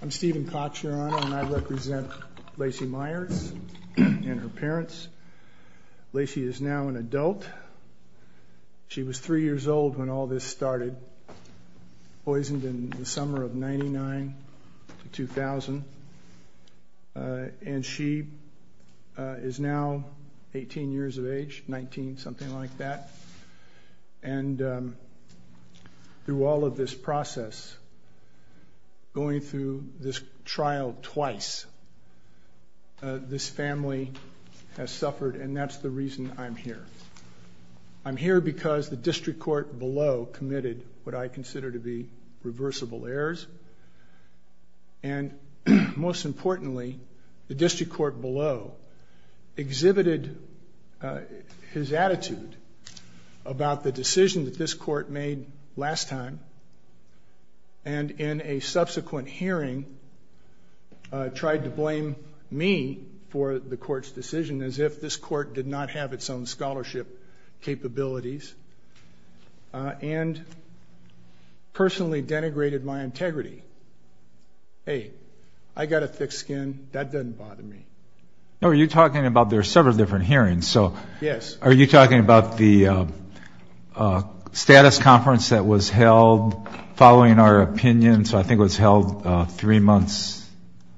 I'm Steven Koch, Your Honor, and I represent Lacey Myers and her parents. Lacey is now an adult. She was three years old when all this started, poisoned in the summer of 99 to 2000, and she is now 18 years of age, 19, something like that. And through all of this process, going through this trial twice, this family has suffered, and that's the reason I'm here. I'm here because the district court below committed what I consider to be reversible errors. And most importantly, the district court below exhibited his attitude about the decision that this court made last time, and in a subsequent hearing, tried to blame me for the court's decision as if this court did not have its own scholarship capabilities. And personally denigrated my integrity. Hey, I got a thick skin. That doesn't bother me. No, you're talking about there are several different hearings. So are you talking about the status conference that was held following our opinion? So I think it was held three months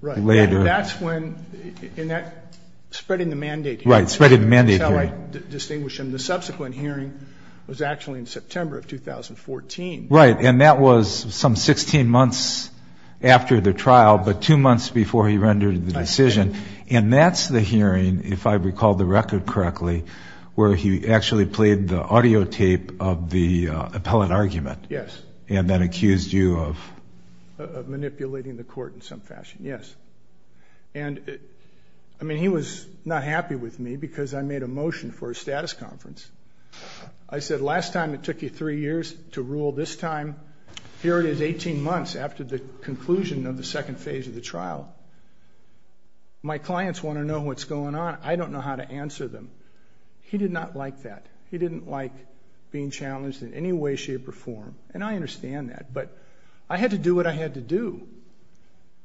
later. Right. That's when, in that, spreading the mandate. Right. Spreading the mandate. So I distinguish them. The subsequent hearing was actually in September of 2014. Right. And that was some 16 months after the trial, but two months before he rendered the decision. And that's the hearing, if I recall the record correctly, where he actually played the audio tape of the appellate argument. Yes. And then accused you of manipulating the court in some fashion. Yes. And I mean, he was not happy with me because I made a motion for a status conference. I said, last time it took you three years to rule. This time, here it is 18 months after the conclusion of the second phase of the trial. My clients want to know what's going on. I don't know how to answer them. He did not like that. He didn't like being challenged in any way, shape, or form. And I understand that. But I had to do what I had to do.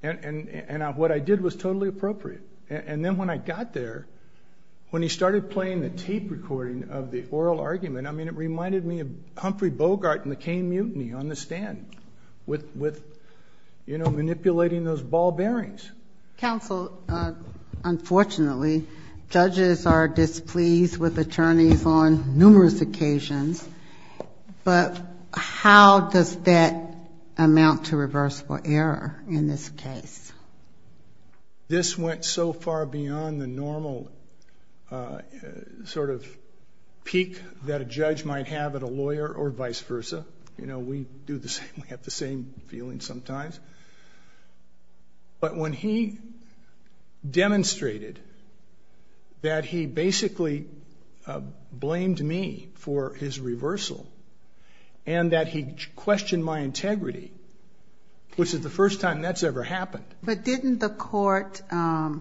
And what I did was totally appropriate. And then when I got there, when he started playing the tape recording of the oral argument, I mean, it reminded me of Humphrey Bogart and McCain mutiny on the stand with, you know, manipulating those ball bearings. Counsel, unfortunately, judges are displeased with attorneys on numerous occasions. But how does that amount to reversible error in this case? This went so far beyond the normal sort of peak that a judge might have at a lawyer or vice versa. You know, we do the same. We have the same feeling sometimes. But when he demonstrated that he basically blamed me for his reversal and that he questioned my integrity, which is the first time that's ever happened. But didn't the court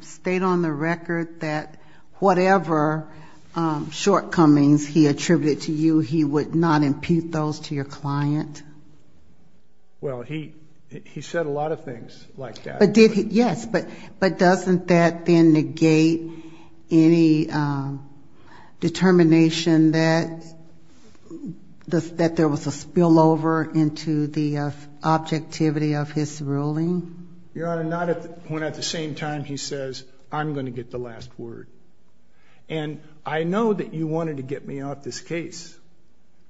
state on the record that whatever shortcomings he attributed to you, he would not impute those to your client? Well, he said a lot of things like that. Yes, but doesn't that then negate any determination that there was a spillover into the objectivity of his ruling? Your Honor, not when at the same time he says, I'm going to get the last word. And I know that you wanted to get me off this case,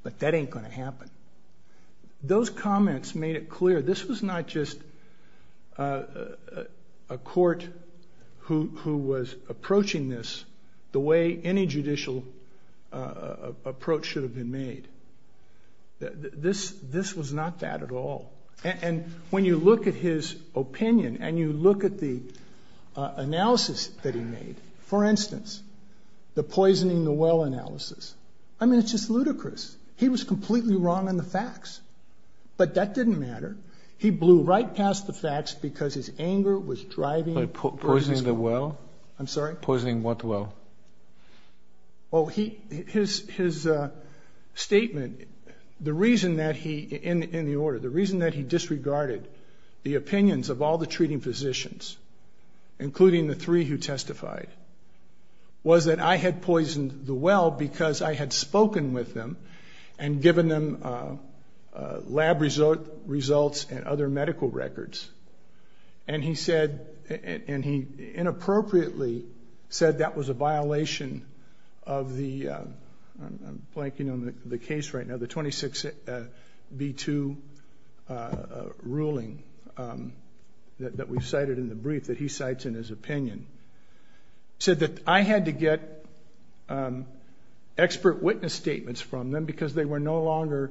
but that ain't going to happen. Those comments made it clear this was not just a court who was approaching this the way any judicial approach should have been made. This was not that at all. And when you look at his opinion and you look at the analysis that he made, for instance, the poisoning the well analysis, I mean, it's just ludicrous. He was completely wrong on the facts, but that didn't matter. He blew right past the facts because his anger was driving him. Poisoning the well? I'm sorry? Poisoning what well? Well, his statement, the reason that he, in the order, the reason that he disregarded the opinions of all the treating physicians, including the three who testified, was that I had poisoned the well because I had spoken with them and given them lab results and other medical records. And he said, and he inappropriately said that was a violation of the, I'm blanking on the case right now, the 26B2 ruling that we cited in the brief that he cites in his opinion, said that I had to get expert witness statements from them because they were no longer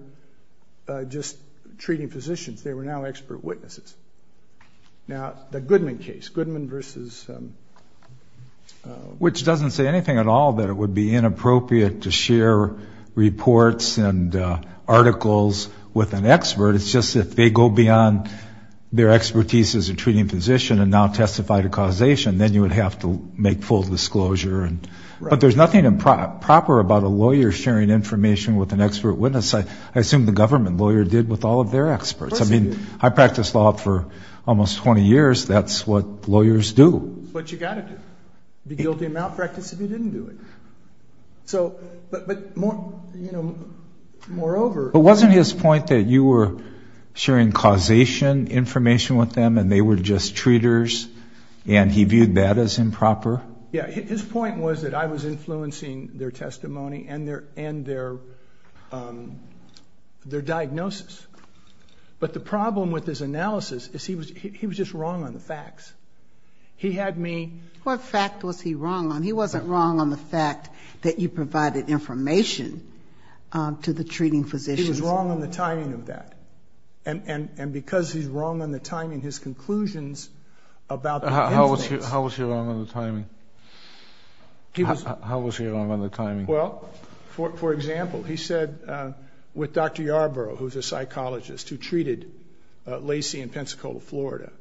just treating physicians. They were now expert witnesses. Now, the Goodman case, Goodman versus... Which doesn't say anything at all that it would be inappropriate to share reports and articles with an expert. It's just if they go beyond their expertise as a treating physician and now testify to causation, then you would have to make full disclosure. But there's nothing improper about a lawyer sharing information with an expert witness. I assume the government lawyer did with all of their experts. I mean, I practiced law for almost 20 years. That's what lawyers do. That's what you got to do. Be guilty of malpractice if you didn't do it. So, but, you know, moreover... But wasn't his point that you were sharing causation information with them and they were just treaters and he viewed that as improper? Yeah. His point was that I was influencing their testimony and their diagnosis. But the problem with his analysis is he was just wrong on the facts. He had me... What fact was he wrong on? He wasn't wrong on the fact that you provided information to the treating physicians. He was wrong on the timing of that. And because he's wrong on the timing, his conclusions about... How was he wrong on the timing? How was he wrong on the timing? Well, for example, he said with Dr. Yarbrough, who's a psychologist who treated Lacey in Pensacola, Florida,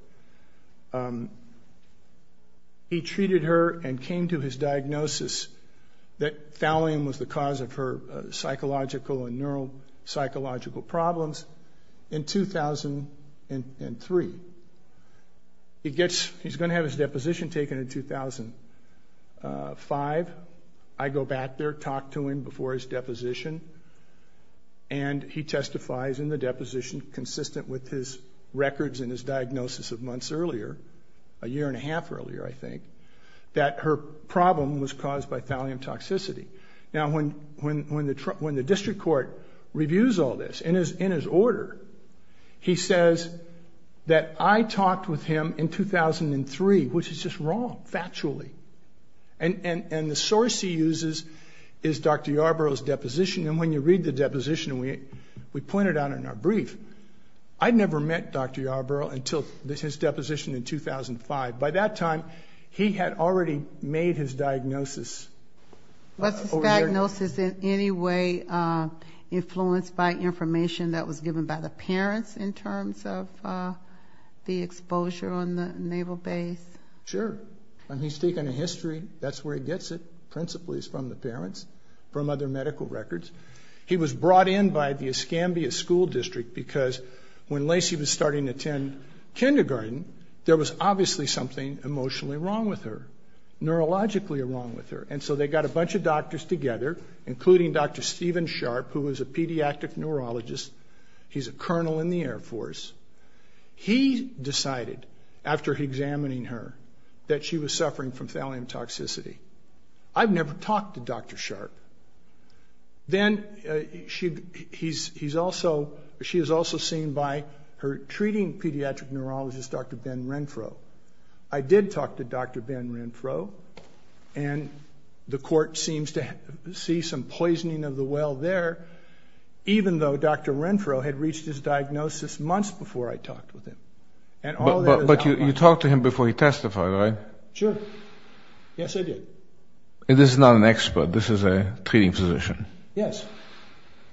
he treated her and came to his diagnosis that thallium was the cause of her psychological and neuropsychological problems in 2003. He gets... He's going to have his deposition taken in 2005. I go back there, talk to him before his deposition, and he testifies in the deposition consistent with his records and his diagnosis of months earlier, a year and a half earlier, I think, that her problem was caused by thallium toxicity. Now, when the district court reviews all this, in his order, he says that I talked with him in 2003, which is just wrong, factually. And the source he uses is Dr. Yarbrough's deposition. And when you read the deposition, we pointed out in our brief, I'd never met Dr. Yarbrough until his deposition in 2005. By that time, he had already made his diagnosis. Was his diagnosis in any way influenced by information that was given by the parents in terms of the exposure on the naval base? Sure. He's taken a history. That's where he gets it principally is from the parents, from other medical records. He was brought in by the Escambia School District because when Lacey was starting to attend kindergarten, there was obviously something emotionally wrong with her, neurologically wrong with her. And so they got a bunch of doctors together, including Dr. Stephen Sharp, who was a pediatric neurologist. He's a colonel in the Air Force. He decided, after examining her, that she was suffering from thallium toxicity. I've never talked to Dr. Sharp. Then she is also seen by her treating pediatric neurologist, Dr. Ben Renfro. I did talk to Dr. Ben Renfro, and the court seems to see some poisoning of the well there, even though Dr. Renfro had reached his diagnosis months before I talked with him. But you talked to him before he testified, right? Sure. Yes, I did. And this is not an expert. This is a treating physician. Yes.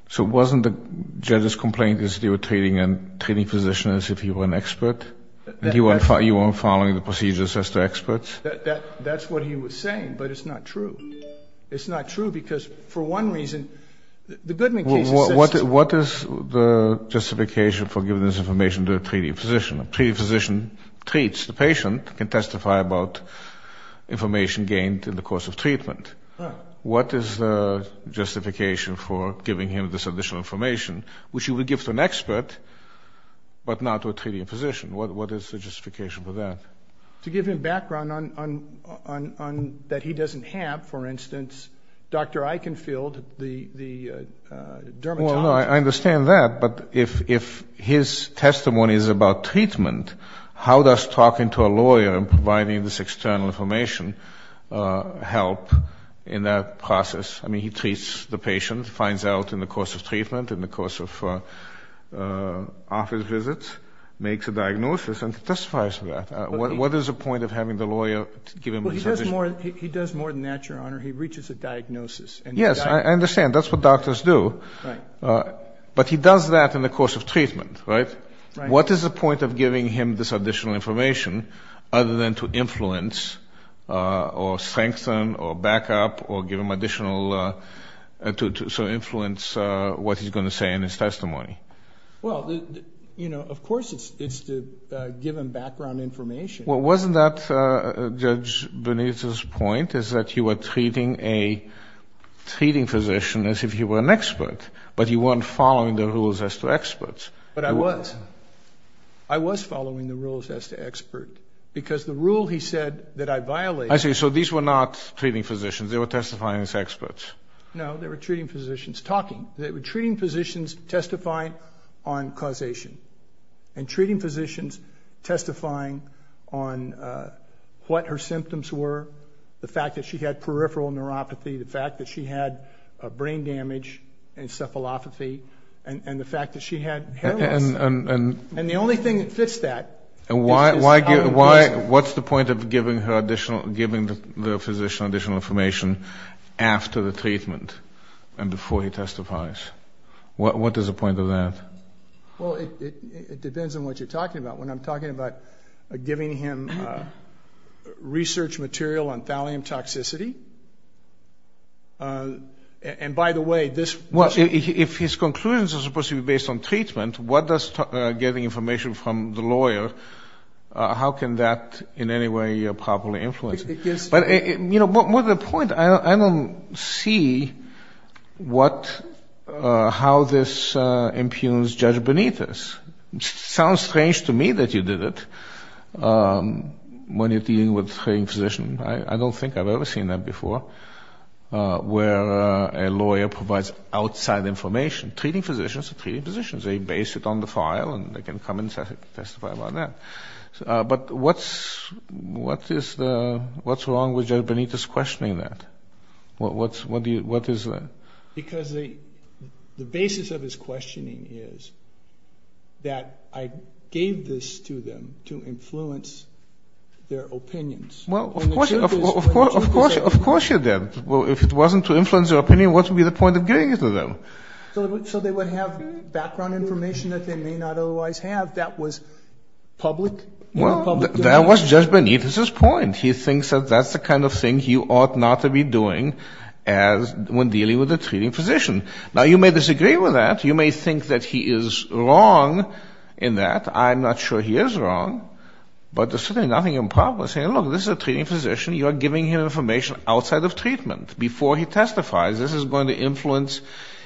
So wasn't the judge's complaint that you were treating a treating physician as if he were an expert, and you weren't following the procedures as to experts? That's what he was saying, but it's not true. It's not true because, for one reason, the Goodman case is sensitive. What is the justification for giving this information to a treating physician? A treating physician treats the patient, can testify about information gained in the course of treatment. Right. What is the justification for giving him this additional information, which he would give to an expert but not to a treating physician? What is the justification for that? To give him background that he doesn't have, for instance, Dr. Eichenfield, the dermatologist. No, I understand that, but if his testimony is about treatment, how does talking to a lawyer and providing this external information help in that process? I mean, he treats the patient, finds out in the course of treatment, in the course of office visits, makes a diagnosis, and testifies to that. What is the point of having the lawyer give him this information? Well, he does more than that, Your Honor. He reaches a diagnosis. Yes, I understand. That's what doctors do. Right. But he does that in the course of treatment, right? Right. What is the point of giving him this additional information other than to influence or strengthen or back up or give him additional to influence what he's going to say in his testimony? Well, you know, of course it's to give him background information. Well, wasn't that Judge Benitez's point is that you were treating a treating physician as if he were an expert, but you weren't following the rules as to experts? But I was. I was following the rules as to expert because the rule he said that I violated. I see. So these were not treating physicians. They were testifying as experts. No, they were treating physicians talking. They were treating physicians testifying on causation and treating physicians testifying on what her symptoms were, the fact that she had peripheral neuropathy, the fact that she had brain damage, encephalopathy, and the fact that she had hair loss. And the only thing that fits that is how it was. What's the point of giving the physician additional information after the treatment and before he testifies? What is the point of that? Well, it depends on what you're talking about. When I'm talking about giving him research material on thallium toxicity, and by the way, this was a Well, if his conclusions are supposed to be based on treatment, what does getting information from the lawyer, how can that in any way properly influence it? But, you know, more to the point, I don't see what, how this impugns Judge Benitez. It sounds strange to me that you did it when you're dealing with a treating physician. I don't think I've ever seen that before, where a lawyer provides outside information. Treating physicians are treating physicians. They base it on the file, and they can come and testify about that. But what's wrong with Judge Benitez questioning that? What is that? Because the basis of his questioning is that I gave this to them to influence their opinions. Well, of course you did. If it wasn't to influence their opinion, what would be the point of giving it to them? So they would have background information that they may not otherwise have that was public? Well, that was Judge Benitez's point. He thinks that that's the kind of thing you ought not to be doing when dealing with a treating physician. Now, you may disagree with that. You may think that he is wrong in that. I'm not sure he is wrong. But there's certainly nothing improper in saying, look, this is a treating physician. You are giving him information outside of treatment before he testifies. This is going to influence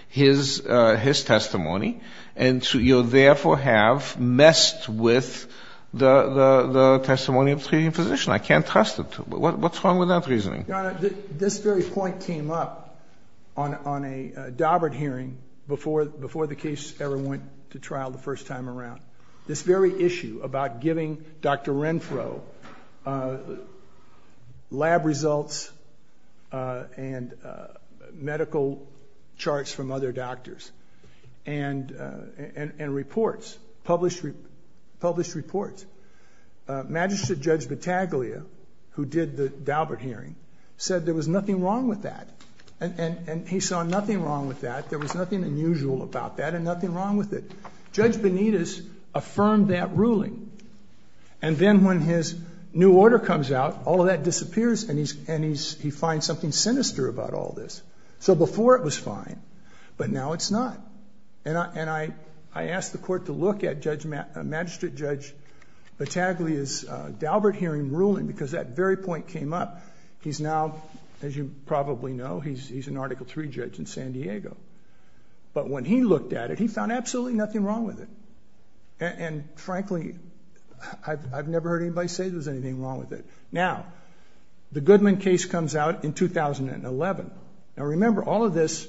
his testimony. And you therefore have messed with the testimony of a treating physician. I can't trust it. What's wrong with that reasoning? Your Honor, this very point came up on a Daubert hearing before the case ever went to trial the first time around. This very issue about giving Dr. Renfro lab results and medical charts from other doctors and reports, published reports. Magistrate Judge Battaglia, who did the Daubert hearing, said there was nothing wrong with that. And he saw nothing wrong with that. There was nothing unusual about that and nothing wrong with it. Judge Benitez affirmed that ruling. And then when his new order comes out, all of that disappears and he finds something sinister about all this. So before it was fine, but now it's not. And I asked the Court to look at Magistrate Judge Battaglia's Daubert hearing ruling because that very point came up. He's now, as you probably know, he's an Article III judge in San Diego. But when he looked at it, he found absolutely nothing wrong with it. And, frankly, I've never heard anybody say there's anything wrong with it. Now, the Goodman case comes out in 2011. Now, remember, all of this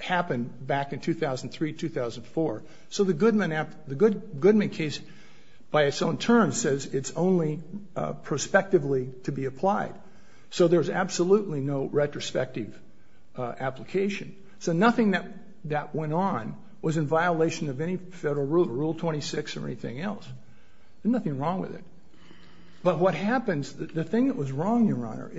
happened back in 2003, 2004. So the Goodman case, by its own terms, says it's only prospectively to be applied. So there's absolutely no retrospective application. So nothing that went on was in violation of any federal rule, Rule 26 or anything else. There's nothing wrong with it. But what happens, the thing that was wrong, Your Honor,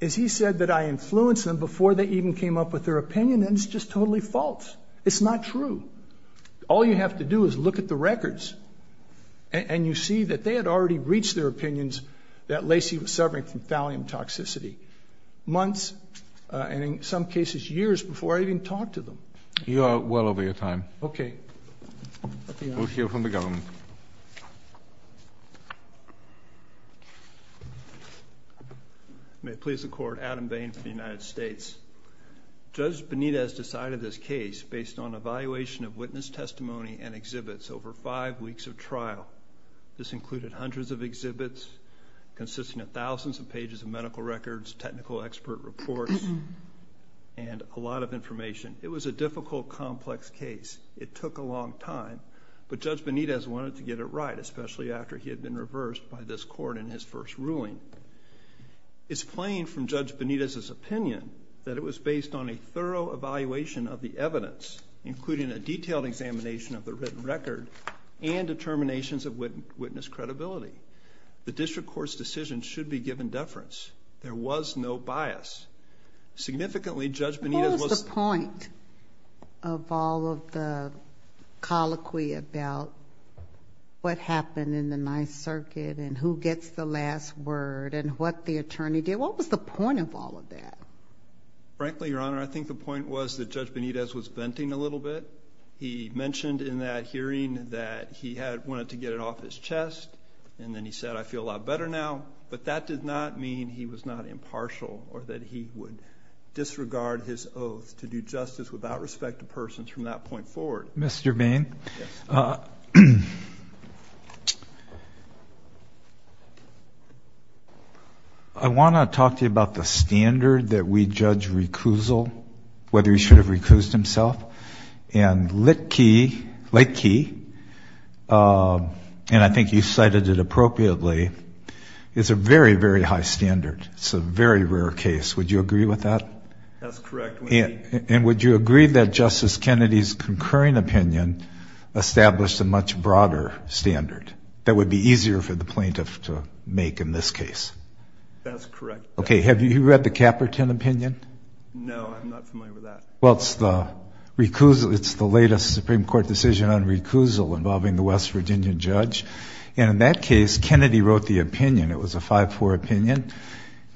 is he said that I influenced them before they even came up with their opinion, and it's just totally false. It's not true. All you have to do is look at the records, and you see that they had already reached their opinions that Lacey was suffering from thallium toxicity months, and in some cases years, before I even talked to them. You are well over your time. Okay. We'll hear from the government. May it please the Court, Adam Bain for the United States. Judge Benitez decided this case based on evaluation of witness testimony and exhibits over five weeks of trial. This included hundreds of exhibits consisting of thousands of pages of medical records, technical expert reports, and a lot of information. It was a difficult, complex case. It took a long time, but Judge Benitez wanted to get it right, especially after he had been reversed by this Court in his first ruling. It's plain from Judge Benitez's opinion that it was based on a thorough evaluation of the evidence, including a detailed examination of the written record and determinations of witness credibility. The district court's decision should be given deference. There was no bias. Significantly, Judge Benitez was... What was the point of all of the colloquy about what happened in the Ninth Circuit and who gets the last word and what the attorney did? What was the point of all of that? Frankly, Your Honor, I think the point was that Judge Benitez was venting a little bit. He mentioned in that hearing that he wanted to get it off his chest, and then he said, I feel a lot better now, but that did not mean he was not impartial or that he would disregard his oath to do justice without respect to persons from that point forward. Mr. Bain, I want to talk to you about the standard that we judge recusal, whether he should have recused himself. And Lake Key, and I think you cited it appropriately, is a very, very high standard. It's a very rare case. Would you agree with that? That's correct. And would you agree that Justice Kennedy's concurring opinion established a much broader standard that would be easier for the plaintiff to make in this case? That's correct. Okay. Have you read the Caperton opinion? No, I'm not familiar with that. Well, it's the latest Supreme Court decision on recusal involving the West Virginia judge. And in that case, Kennedy wrote the opinion. It was a 5-4 opinion.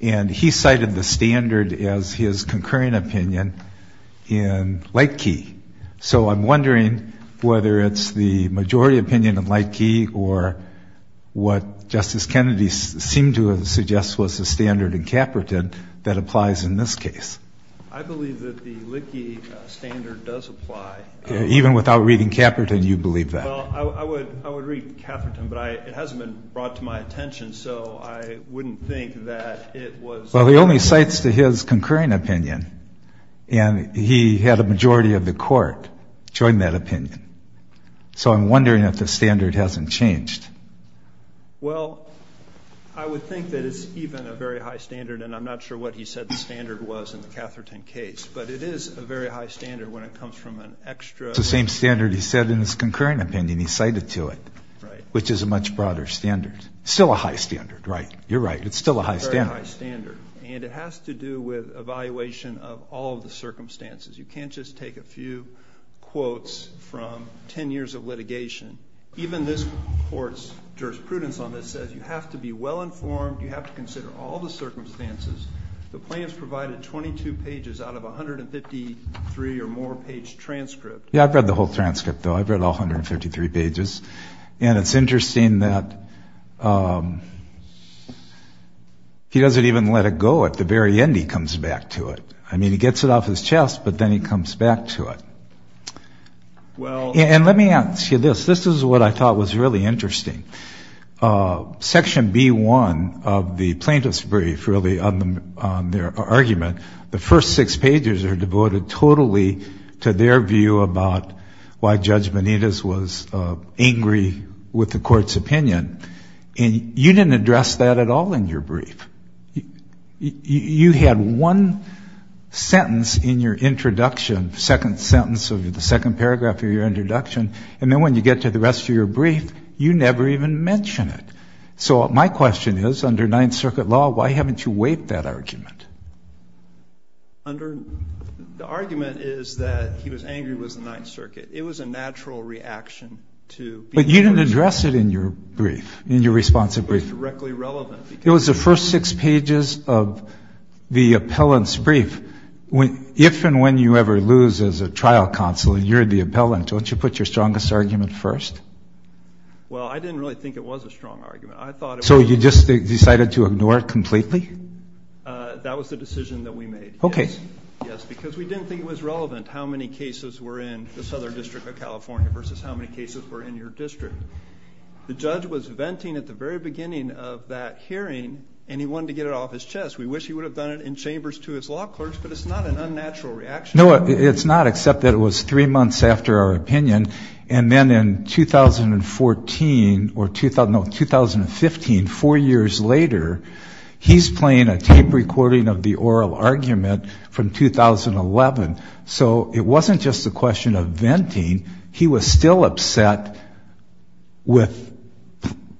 And he cited the standard as his concurring opinion in Lake Key. So I'm wondering whether it's the majority opinion in Lake Key or what Justice Kennedy seemed to suggest was the standard in Caperton that applies in this case. I believe that the Lake Key standard does apply. Even without reading Caperton, you believe that? Well, I would read Caperton, but it hasn't been brought to my attention, so I wouldn't think that it was. Well, he only cites to his concurring opinion, and he had a majority of the court join that opinion. So I'm wondering if the standard hasn't changed. Well, I would think that it's even a very high standard, and I'm not sure what he said the standard was in the Catherton case, but it is a very high standard when it comes from an extra. It's the same standard he said in his concurring opinion he cited to it, which is a much broader standard. It's still a high standard, right? You're right. It's still a high standard. It's a very high standard, and it has to do with evaluation of all of the circumstances. You can't just take a few quotes from 10 years of litigation. Even this court's jurisprudence on this says you have to be well-informed, you have to consider all the circumstances. The plaintiff's provided 22 pages out of 153 or more page transcript. Yeah, I've read the whole transcript, though. I've read all 153 pages. And it's interesting that he doesn't even let it go. At the very end, he comes back to it. I mean, he gets it off his chest, but then he comes back to it. And let me ask you this. This is what I thought was really interesting. Section B-1 of the plaintiff's brief, really, on their argument, the first six pages are devoted totally to their view about why Judge Benitez was angry with the court's opinion. And you didn't address that at all in your brief. You had one sentence in your introduction, second sentence of the second paragraph of your introduction, and then when you get to the rest of your brief, you never even mention it. So my question is, under Ninth Circuit law, why haven't you weighed that argument? The argument is that he was angry with the Ninth Circuit. It was a natural reaction to... But you didn't address it in your brief, in your response to the brief. It was directly relevant. It was the first six pages of the appellant's brief. If and when you ever lose as a trial counsel and you're the appellant, don't you put your strongest argument first? Well, I didn't really think it was a strong argument. So you just decided to ignore it completely? That was the decision that we made. Okay. Yes, because we didn't think it was relevant how many cases were in the Southern District of California versus how many cases were in your district. The judge was venting at the very beginning of that hearing, and he wanted to get it off his chest. We wish he would have done it in chambers to his law clerks, but it's not an unnatural reaction. No, it's not, except that it was three months after our opinion, and then in 2014 or 2015, four years later, he's playing a tape recording of the oral argument from 2011. So it wasn't just a question of venting. He was still upset with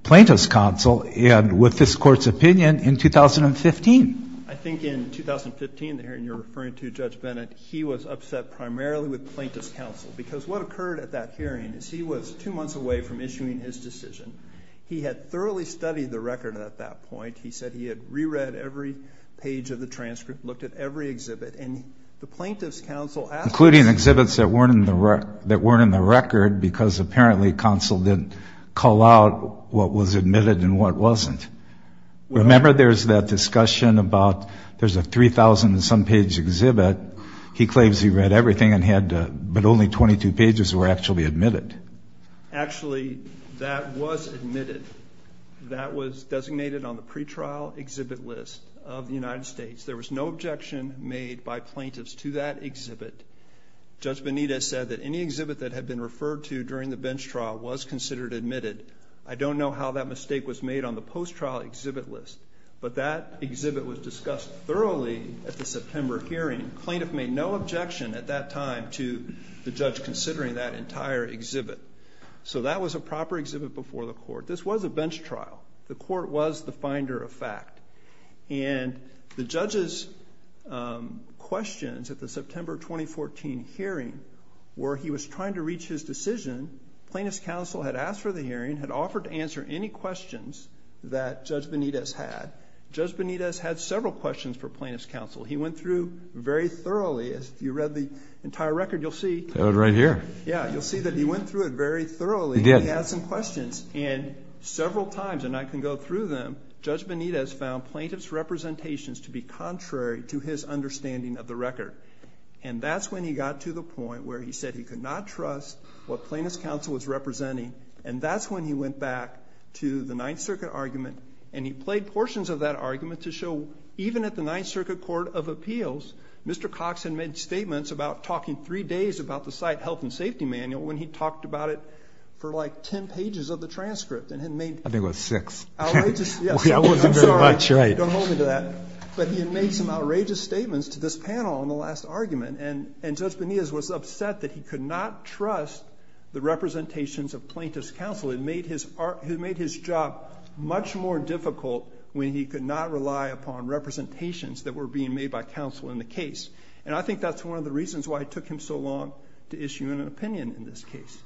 plaintiff's counsel and with this Court's opinion in 2015. I think in 2015, the hearing you're referring to, Judge Bennett, he was upset primarily with plaintiff's counsel because what occurred at that hearing is he was two months away from issuing his decision. He had thoroughly studied the record at that point. He said he had reread every page of the transcript, looked at every exhibit, and the plaintiff's counsel asked him. Including exhibits that weren't in the record because apparently counsel didn't call out what was admitted and what wasn't. Remember there's that discussion about there's a 3,000-and-some-page exhibit. He claims he read everything, but only 22 pages were actually admitted. Actually, that was admitted. That was designated on the pretrial exhibit list of the United States. There was no objection made by plaintiffs to that exhibit. Judge Benitez said that any exhibit that had been referred to during the bench trial was considered admitted. I don't know how that mistake was made on the post-trial exhibit list, but that exhibit was discussed thoroughly at the September hearing. Plaintiff made no objection at that time to the judge considering that entire exhibit. So that was a proper exhibit before the Court. This was a bench trial. The Court was the finder of fact. And the judge's questions at the September 2014 hearing were he was trying to reach his decision. Plaintiff's counsel had asked for the hearing, had offered to answer any questions that Judge Benitez had. Judge Benitez had several questions for plaintiff's counsel. He went through very thoroughly. If you read the entire record, you'll see. I have it right here. Yeah, you'll see that he went through it very thoroughly. He did. He had some questions. And several times, and I can go through them, Judge Benitez found plaintiff's representations to be contrary to his understanding of the record. And that's when he got to the point where he said he could not trust what plaintiff's counsel was representing. And that's when he went back to the Ninth Circuit argument, and he played portions of that argument to show even at the Ninth Circuit Court of Appeals, Mr. Cox had made statements about talking three days about the site health and safety manual when he talked about it for like 10 pages of the transcript. I think it was six. I wasn't very much. Don't hold me to that. But he had made some outrageous statements to this panel in the last argument, and Judge Benitez was upset that he could not trust the representations of plaintiff's counsel. It made his job much more difficult when he could not rely upon representations that were being made by counsel in the case. And I think that's one of the reasons why it took him so long to issue an opinion in this case.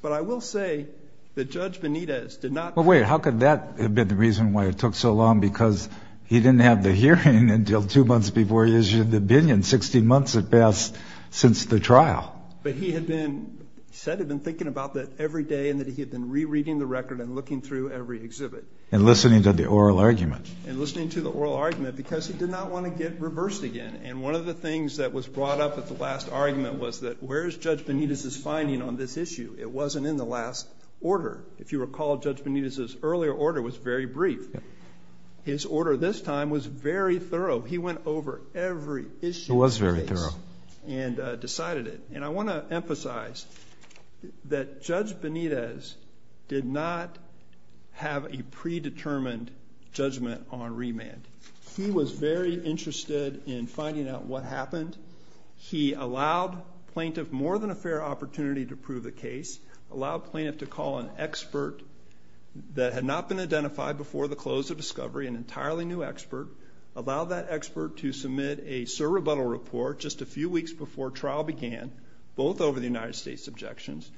But I will say that Judge Benitez did not. Well, wait, how could that have been the reason why it took so long? Because he didn't have the hearing until two months before he issued the opinion, 60 months at best since the trial. But he had been, he said he had been thinking about that every day and that he had been rereading the record and looking through every exhibit. And listening to the oral argument. And listening to the oral argument because he did not want to get reversed again. And one of the things that was brought up at the last argument was that where is Judge Benitez's finding on this issue? It wasn't in the last order. If you recall, Judge Benitez's earlier order was very brief. His order this time was very thorough. He went over every issue in the case. It was very thorough. And decided it. And I want to emphasize that Judge Benitez did not have a predetermined judgment on remand. He was very interested in finding out what happened. He allowed plaintiff more than a fair opportunity to prove the case. Allowed plaintiff to call an expert that had not been identified before the close of discovery. An entirely new expert. Allowed that expert to submit a sur rebuttal report just a few weeks before trial began. Both over the United States objections.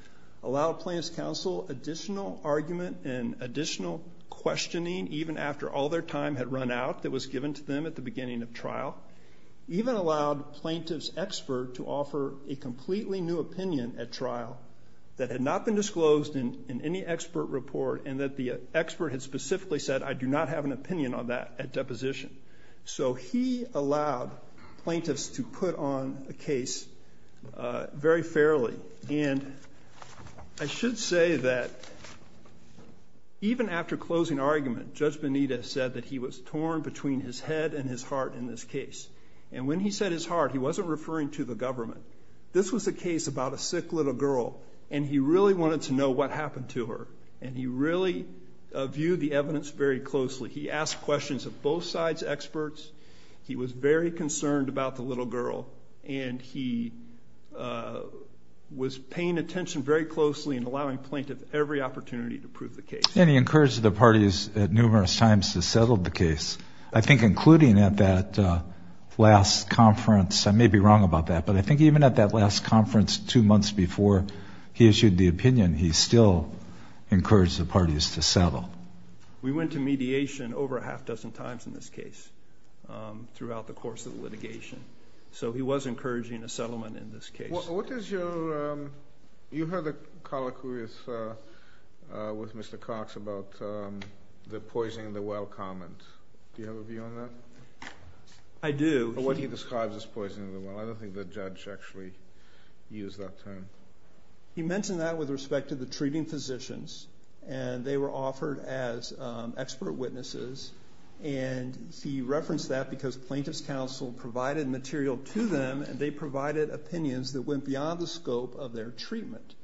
Allowed plaintiff's counsel additional argument and additional questioning even after all their time had run out that was given to them at the beginning of trial. Even allowed plaintiff's expert to offer a completely new opinion at trial that had not been disclosed in any expert report and that the expert had specifically said I do not have an opinion on that at deposition. So he allowed plaintiffs to put on a case very fairly. And I should say that even after closing argument, Judge Benitez said that he was torn between his head and his heart in this case. And when he said his heart, he wasn't referring to the government. This was a case about a sick little girl and he really wanted to know what happened to her. And he really viewed the evidence very closely. He asked questions of both sides' experts. He was very concerned about the little girl. And he was paying attention very closely and allowing plaintiff every opportunity to prove the case. And he encouraged the parties numerous times to settle the case. I think including at that last conference, I may be wrong about that, but I think even at that last conference two months before he issued the opinion, he still encouraged the parties to settle. We went to mediation over a half dozen times in this case throughout the course of litigation. So he was encouraging a settlement in this case. You heard the colloquy with Mr. Cox about the poison in the well comment. Do you have a view on that? I do. What he describes as poison in the well. I don't think the judge actually used that term. He mentioned that with respect to the treating physicians. And they were offered as expert witnesses. And he referenced that because plaintiff's counsel provided material to them and they provided opinions that went beyond the scope of their treatment.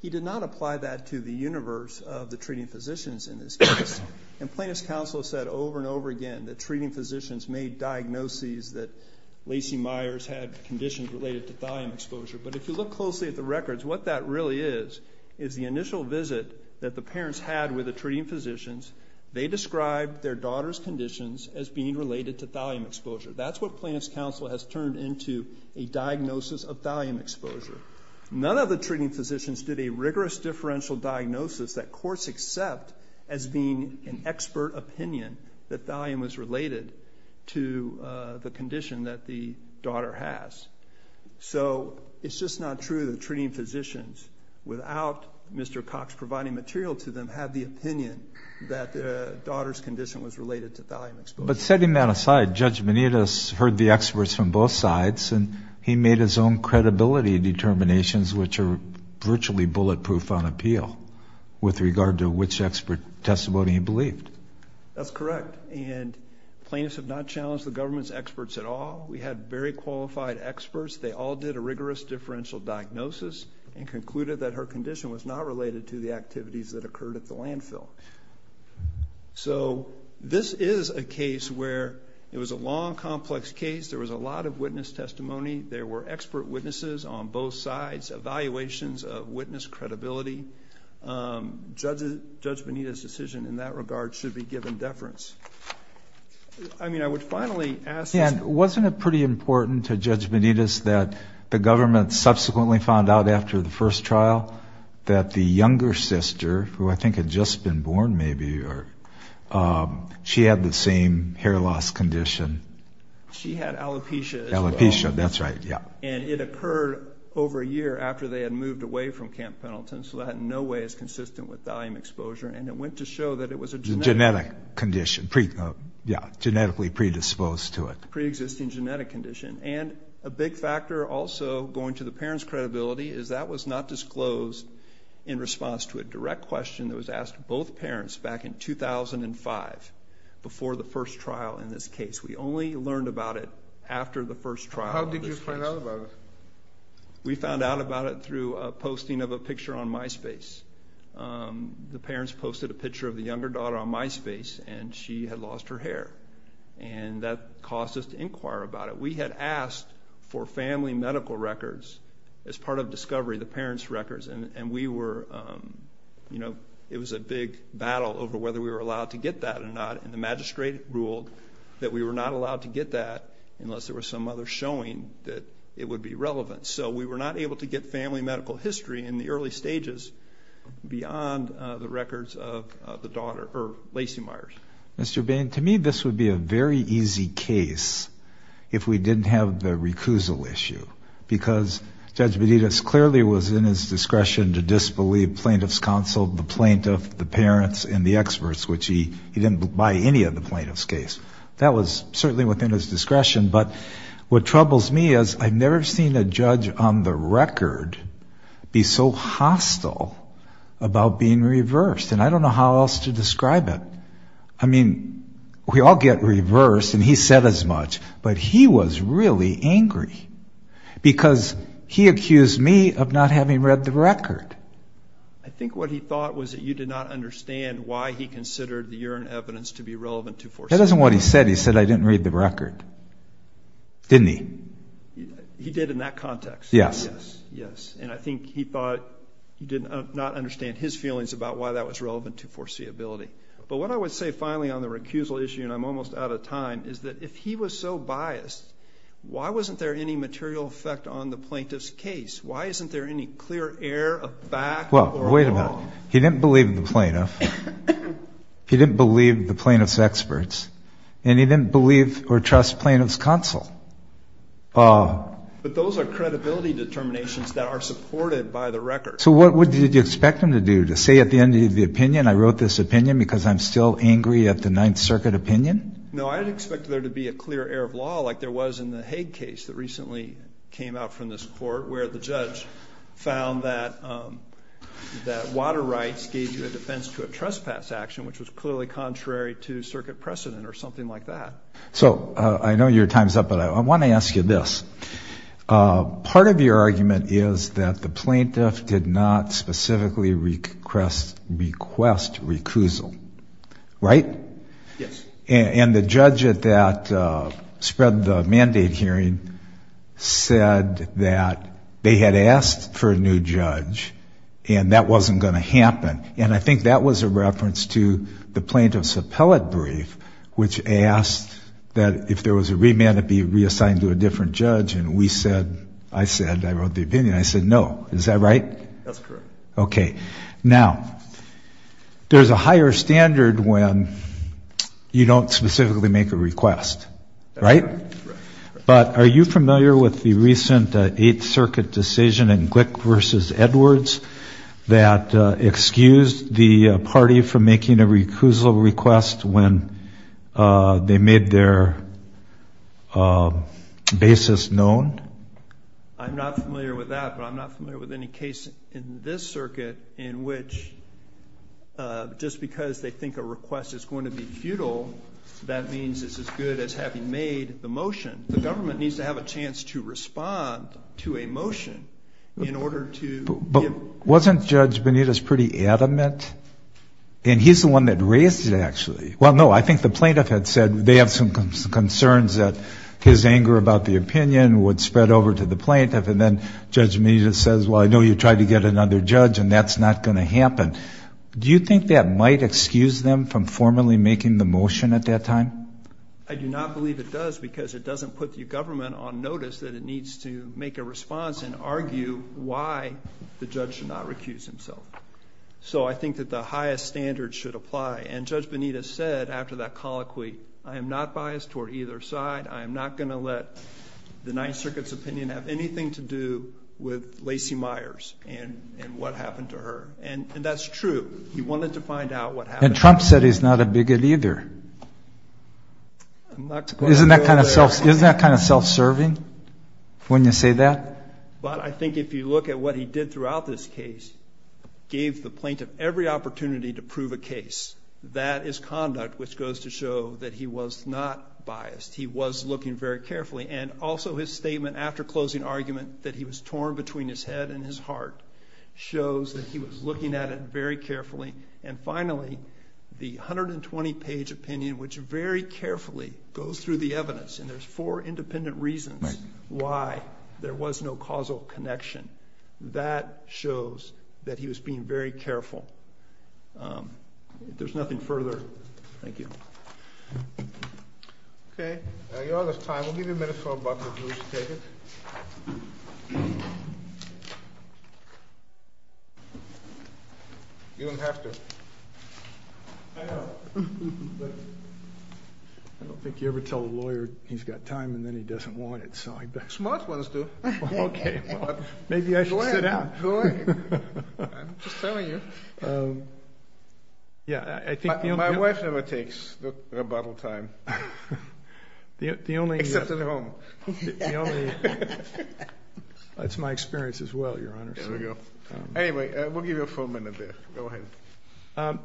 He did not apply that to the universe of the treating physicians in this case. And plaintiff's counsel said over and over again that treating physicians made diagnoses that Lacey Myers had conditions related to thallium exposure. But if you look closely at the records, what that really is is the initial visit that the parents had with the treating physicians. They described their daughter's conditions as being related to thallium exposure. That's what plaintiff's counsel has turned into a diagnosis of thallium exposure. None of the treating physicians did a rigorous differential diagnosis that courts accept as being an expert opinion that thallium was related to the condition that the daughter has. So it's just not true that the treating physicians, without Mr. Cox providing material to them, had the opinion that their daughter's condition was related to thallium exposure. But setting that aside, Judge Benitez heard the experts from both sides and he made his own credibility determinations which are virtually bulletproof on appeal with regard to which expert testimony he believed. That's correct. And plaintiffs have not challenged the government's experts at all. We had very qualified experts. They all did a rigorous differential diagnosis and concluded that her condition was not related to the activities that occurred at the landfill. So this is a case where it was a long, complex case. There was a lot of witness testimony. There were expert witnesses on both sides, evaluations of witness credibility. Judge Benitez's decision in that regard should be given deference. I mean, I would finally ask this. Yeah, wasn't it pretty important to Judge Benitez that the government subsequently found out after the first trial that the younger sister, who I think had just been born maybe, she had the same hair loss condition. She had alopecia as well. Alopecia, that's right, yeah. And it occurred over a year after they had moved away from Camp Pendleton, so that in no way is consistent with thallium exposure, and it went to show that it was a genetic condition, genetically predisposed to it. Pre-existing genetic condition. And a big factor also going to the parents' credibility is that was not disclosed in response to a direct question that was asked to both parents back in 2005 before the first trial in this case. We only learned about it after the first trial. How did you find out about it? We found out about it through a posting of a picture on MySpace. The parents posted a picture of the younger daughter on MySpace, and she had lost her hair, and that caused us to inquire about it. We had asked for family medical records as part of discovery, the parents' records, and we were, you know, it was a big battle over whether we were allowed to get that or not, and the magistrate ruled that we were not allowed to get that unless there was some other showing that it would be relevant. So we were not able to get family medical history in the early stages beyond the records of the daughter, or Lacey Myers. Mr. Bain, to me this would be a very easy case if we didn't have the recusal issue because Judge Beditas clearly was in his discretion to disbelieve plaintiff's counsel, the plaintiff, the parents, and the experts, which he didn't buy any of the plaintiff's case. That was certainly within his discretion, but what troubles me is I've never seen a judge on the record be so hostile about being reversed, and I don't know how else to describe it. I mean, we all get reversed, and he said as much, but he was really angry because he accused me of not having read the record. I think what he thought was that you did not understand why he considered the urine evidence to be relevant to forced abortion. That isn't what he said. He said I didn't read the record. Didn't he? He did in that context. Yes. And I think he thought you did not understand his feelings about why that was relevant to foreseeability. But what I would say finally on the recusal issue, and I'm almost out of time, is that if he was so biased, why wasn't there any material effect on the plaintiff's case? Why isn't there any clear air of back or wrong? Well, wait a minute. He didn't believe the plaintiff, he didn't believe the plaintiff's experts, and he didn't believe or trust plaintiff's counsel. But those are credibility determinations that are supported by the record. So what did you expect him to do, to say at the end of the opinion, I wrote this opinion because I'm still angry at the Ninth Circuit opinion? No, I didn't expect there to be a clear air of law like there was in the Hague case that recently came out from this court where the judge found that water rights gave you a defense to a trespass action, which was clearly contrary to circuit precedent or something like that. So I know your time's up, but I want to ask you this. Part of your argument is that the plaintiff did not specifically request recusal, right? Yes. And the judge that spread the mandate hearing said that they had asked for a new judge and that wasn't going to happen. And I think that was a reference to the plaintiff's appellate brief, which asked that if there was a remand it be reassigned to a different judge, and we said, I said, I wrote the opinion, I said no. Is that right? That's correct. Okay. Now, there's a higher standard when you don't specifically make a request, right? Right. that excused the party from making a recusal request when they made their basis known? I'm not familiar with that, but I'm not familiar with any case in this circuit in which just because they think a request is going to be futile, that means it's as good as having made the motion. The government needs to have a chance to respond to a motion in order to give. But wasn't Judge Benitez pretty adamant? And he's the one that raised it, actually. Well, no, I think the plaintiff had said they have some concerns that his anger about the opinion would spread over to the plaintiff, and then Judge Benitez says, well, I know you tried to get another judge and that's not going to happen. Do you think that might excuse them from formally making the motion at that time? I do not believe it does because it doesn't put the government on notice that it needs to make a response and argue why the judge should not recuse himself. So I think that the highest standard should apply. And Judge Benitez said after that colloquy, I am not biased toward either side. I am not going to let the Ninth Circuit's opinion have anything to do with Lacey Myers and what happened to her. And that's true. He wanted to find out what happened to her. The judge said he's not a bigot either. Isn't that kind of self-serving when you say that? But I think if you look at what he did throughout this case, gave the plaintiff every opportunity to prove a case. That is conduct which goes to show that he was not biased. He was looking very carefully. And also his statement after closing argument that he was torn between his head and his heart shows that he was looking at it very carefully. And finally, the 120-page opinion, which very carefully goes through the evidence, and there's four independent reasons why there was no causal connection. That shows that he was being very careful. If there's nothing further, thank you. Okay. You all have time. We'll give you a minute for a buck if you wish to take it. You don't have to. I know. I don't think you ever tell a lawyer he's got time and then he doesn't want it. Smart ones do. Okay. Maybe I should sit down. Go ahead. I'm just telling you. My wife never takes rebuttal time. Except at home. That's my experience as well, Your Honor. There we go. Anyway, we'll give you a full minute there. Go ahead.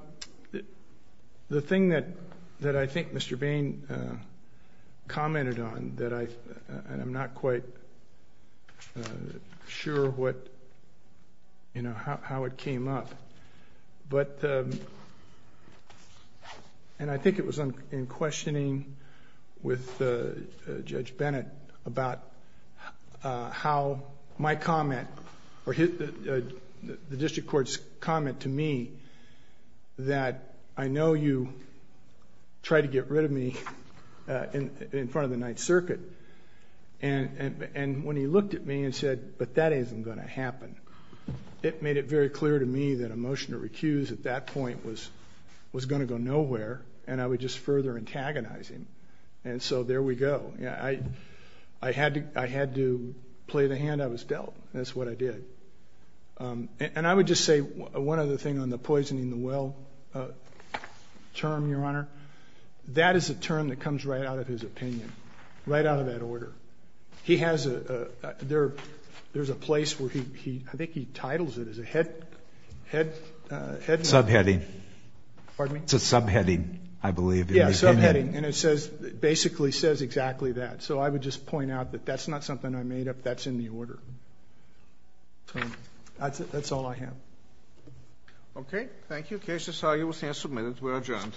The thing that I think Mr. Bain commented on, and I'm not quite sure how it came up, and I think it was in questioning with Judge Bennett about how my comment, or the district court's comment to me, that I know you tried to get rid of me in front of the Ninth Circuit. And when he looked at me and said, but that isn't going to happen, it made it very clear to me that a motion to recuse at that point was going to go nowhere, and I would just further antagonize him. And so there we go. I had to play the hand I was dealt. That's what I did. And I would just say one other thing on the poisoning the well term, Your Honor. That is a term that comes right out of his opinion, right out of that order. There's a place where he, I think he titles it as a head. Subheading. Pardon me? It's a subheading, I believe. Yeah, subheading. And it basically says exactly that. So I would just point out that that's not something I made up. That's in the order. So that's all I have. Okay. Thank you. Cases are usually submitted. We're adjourned.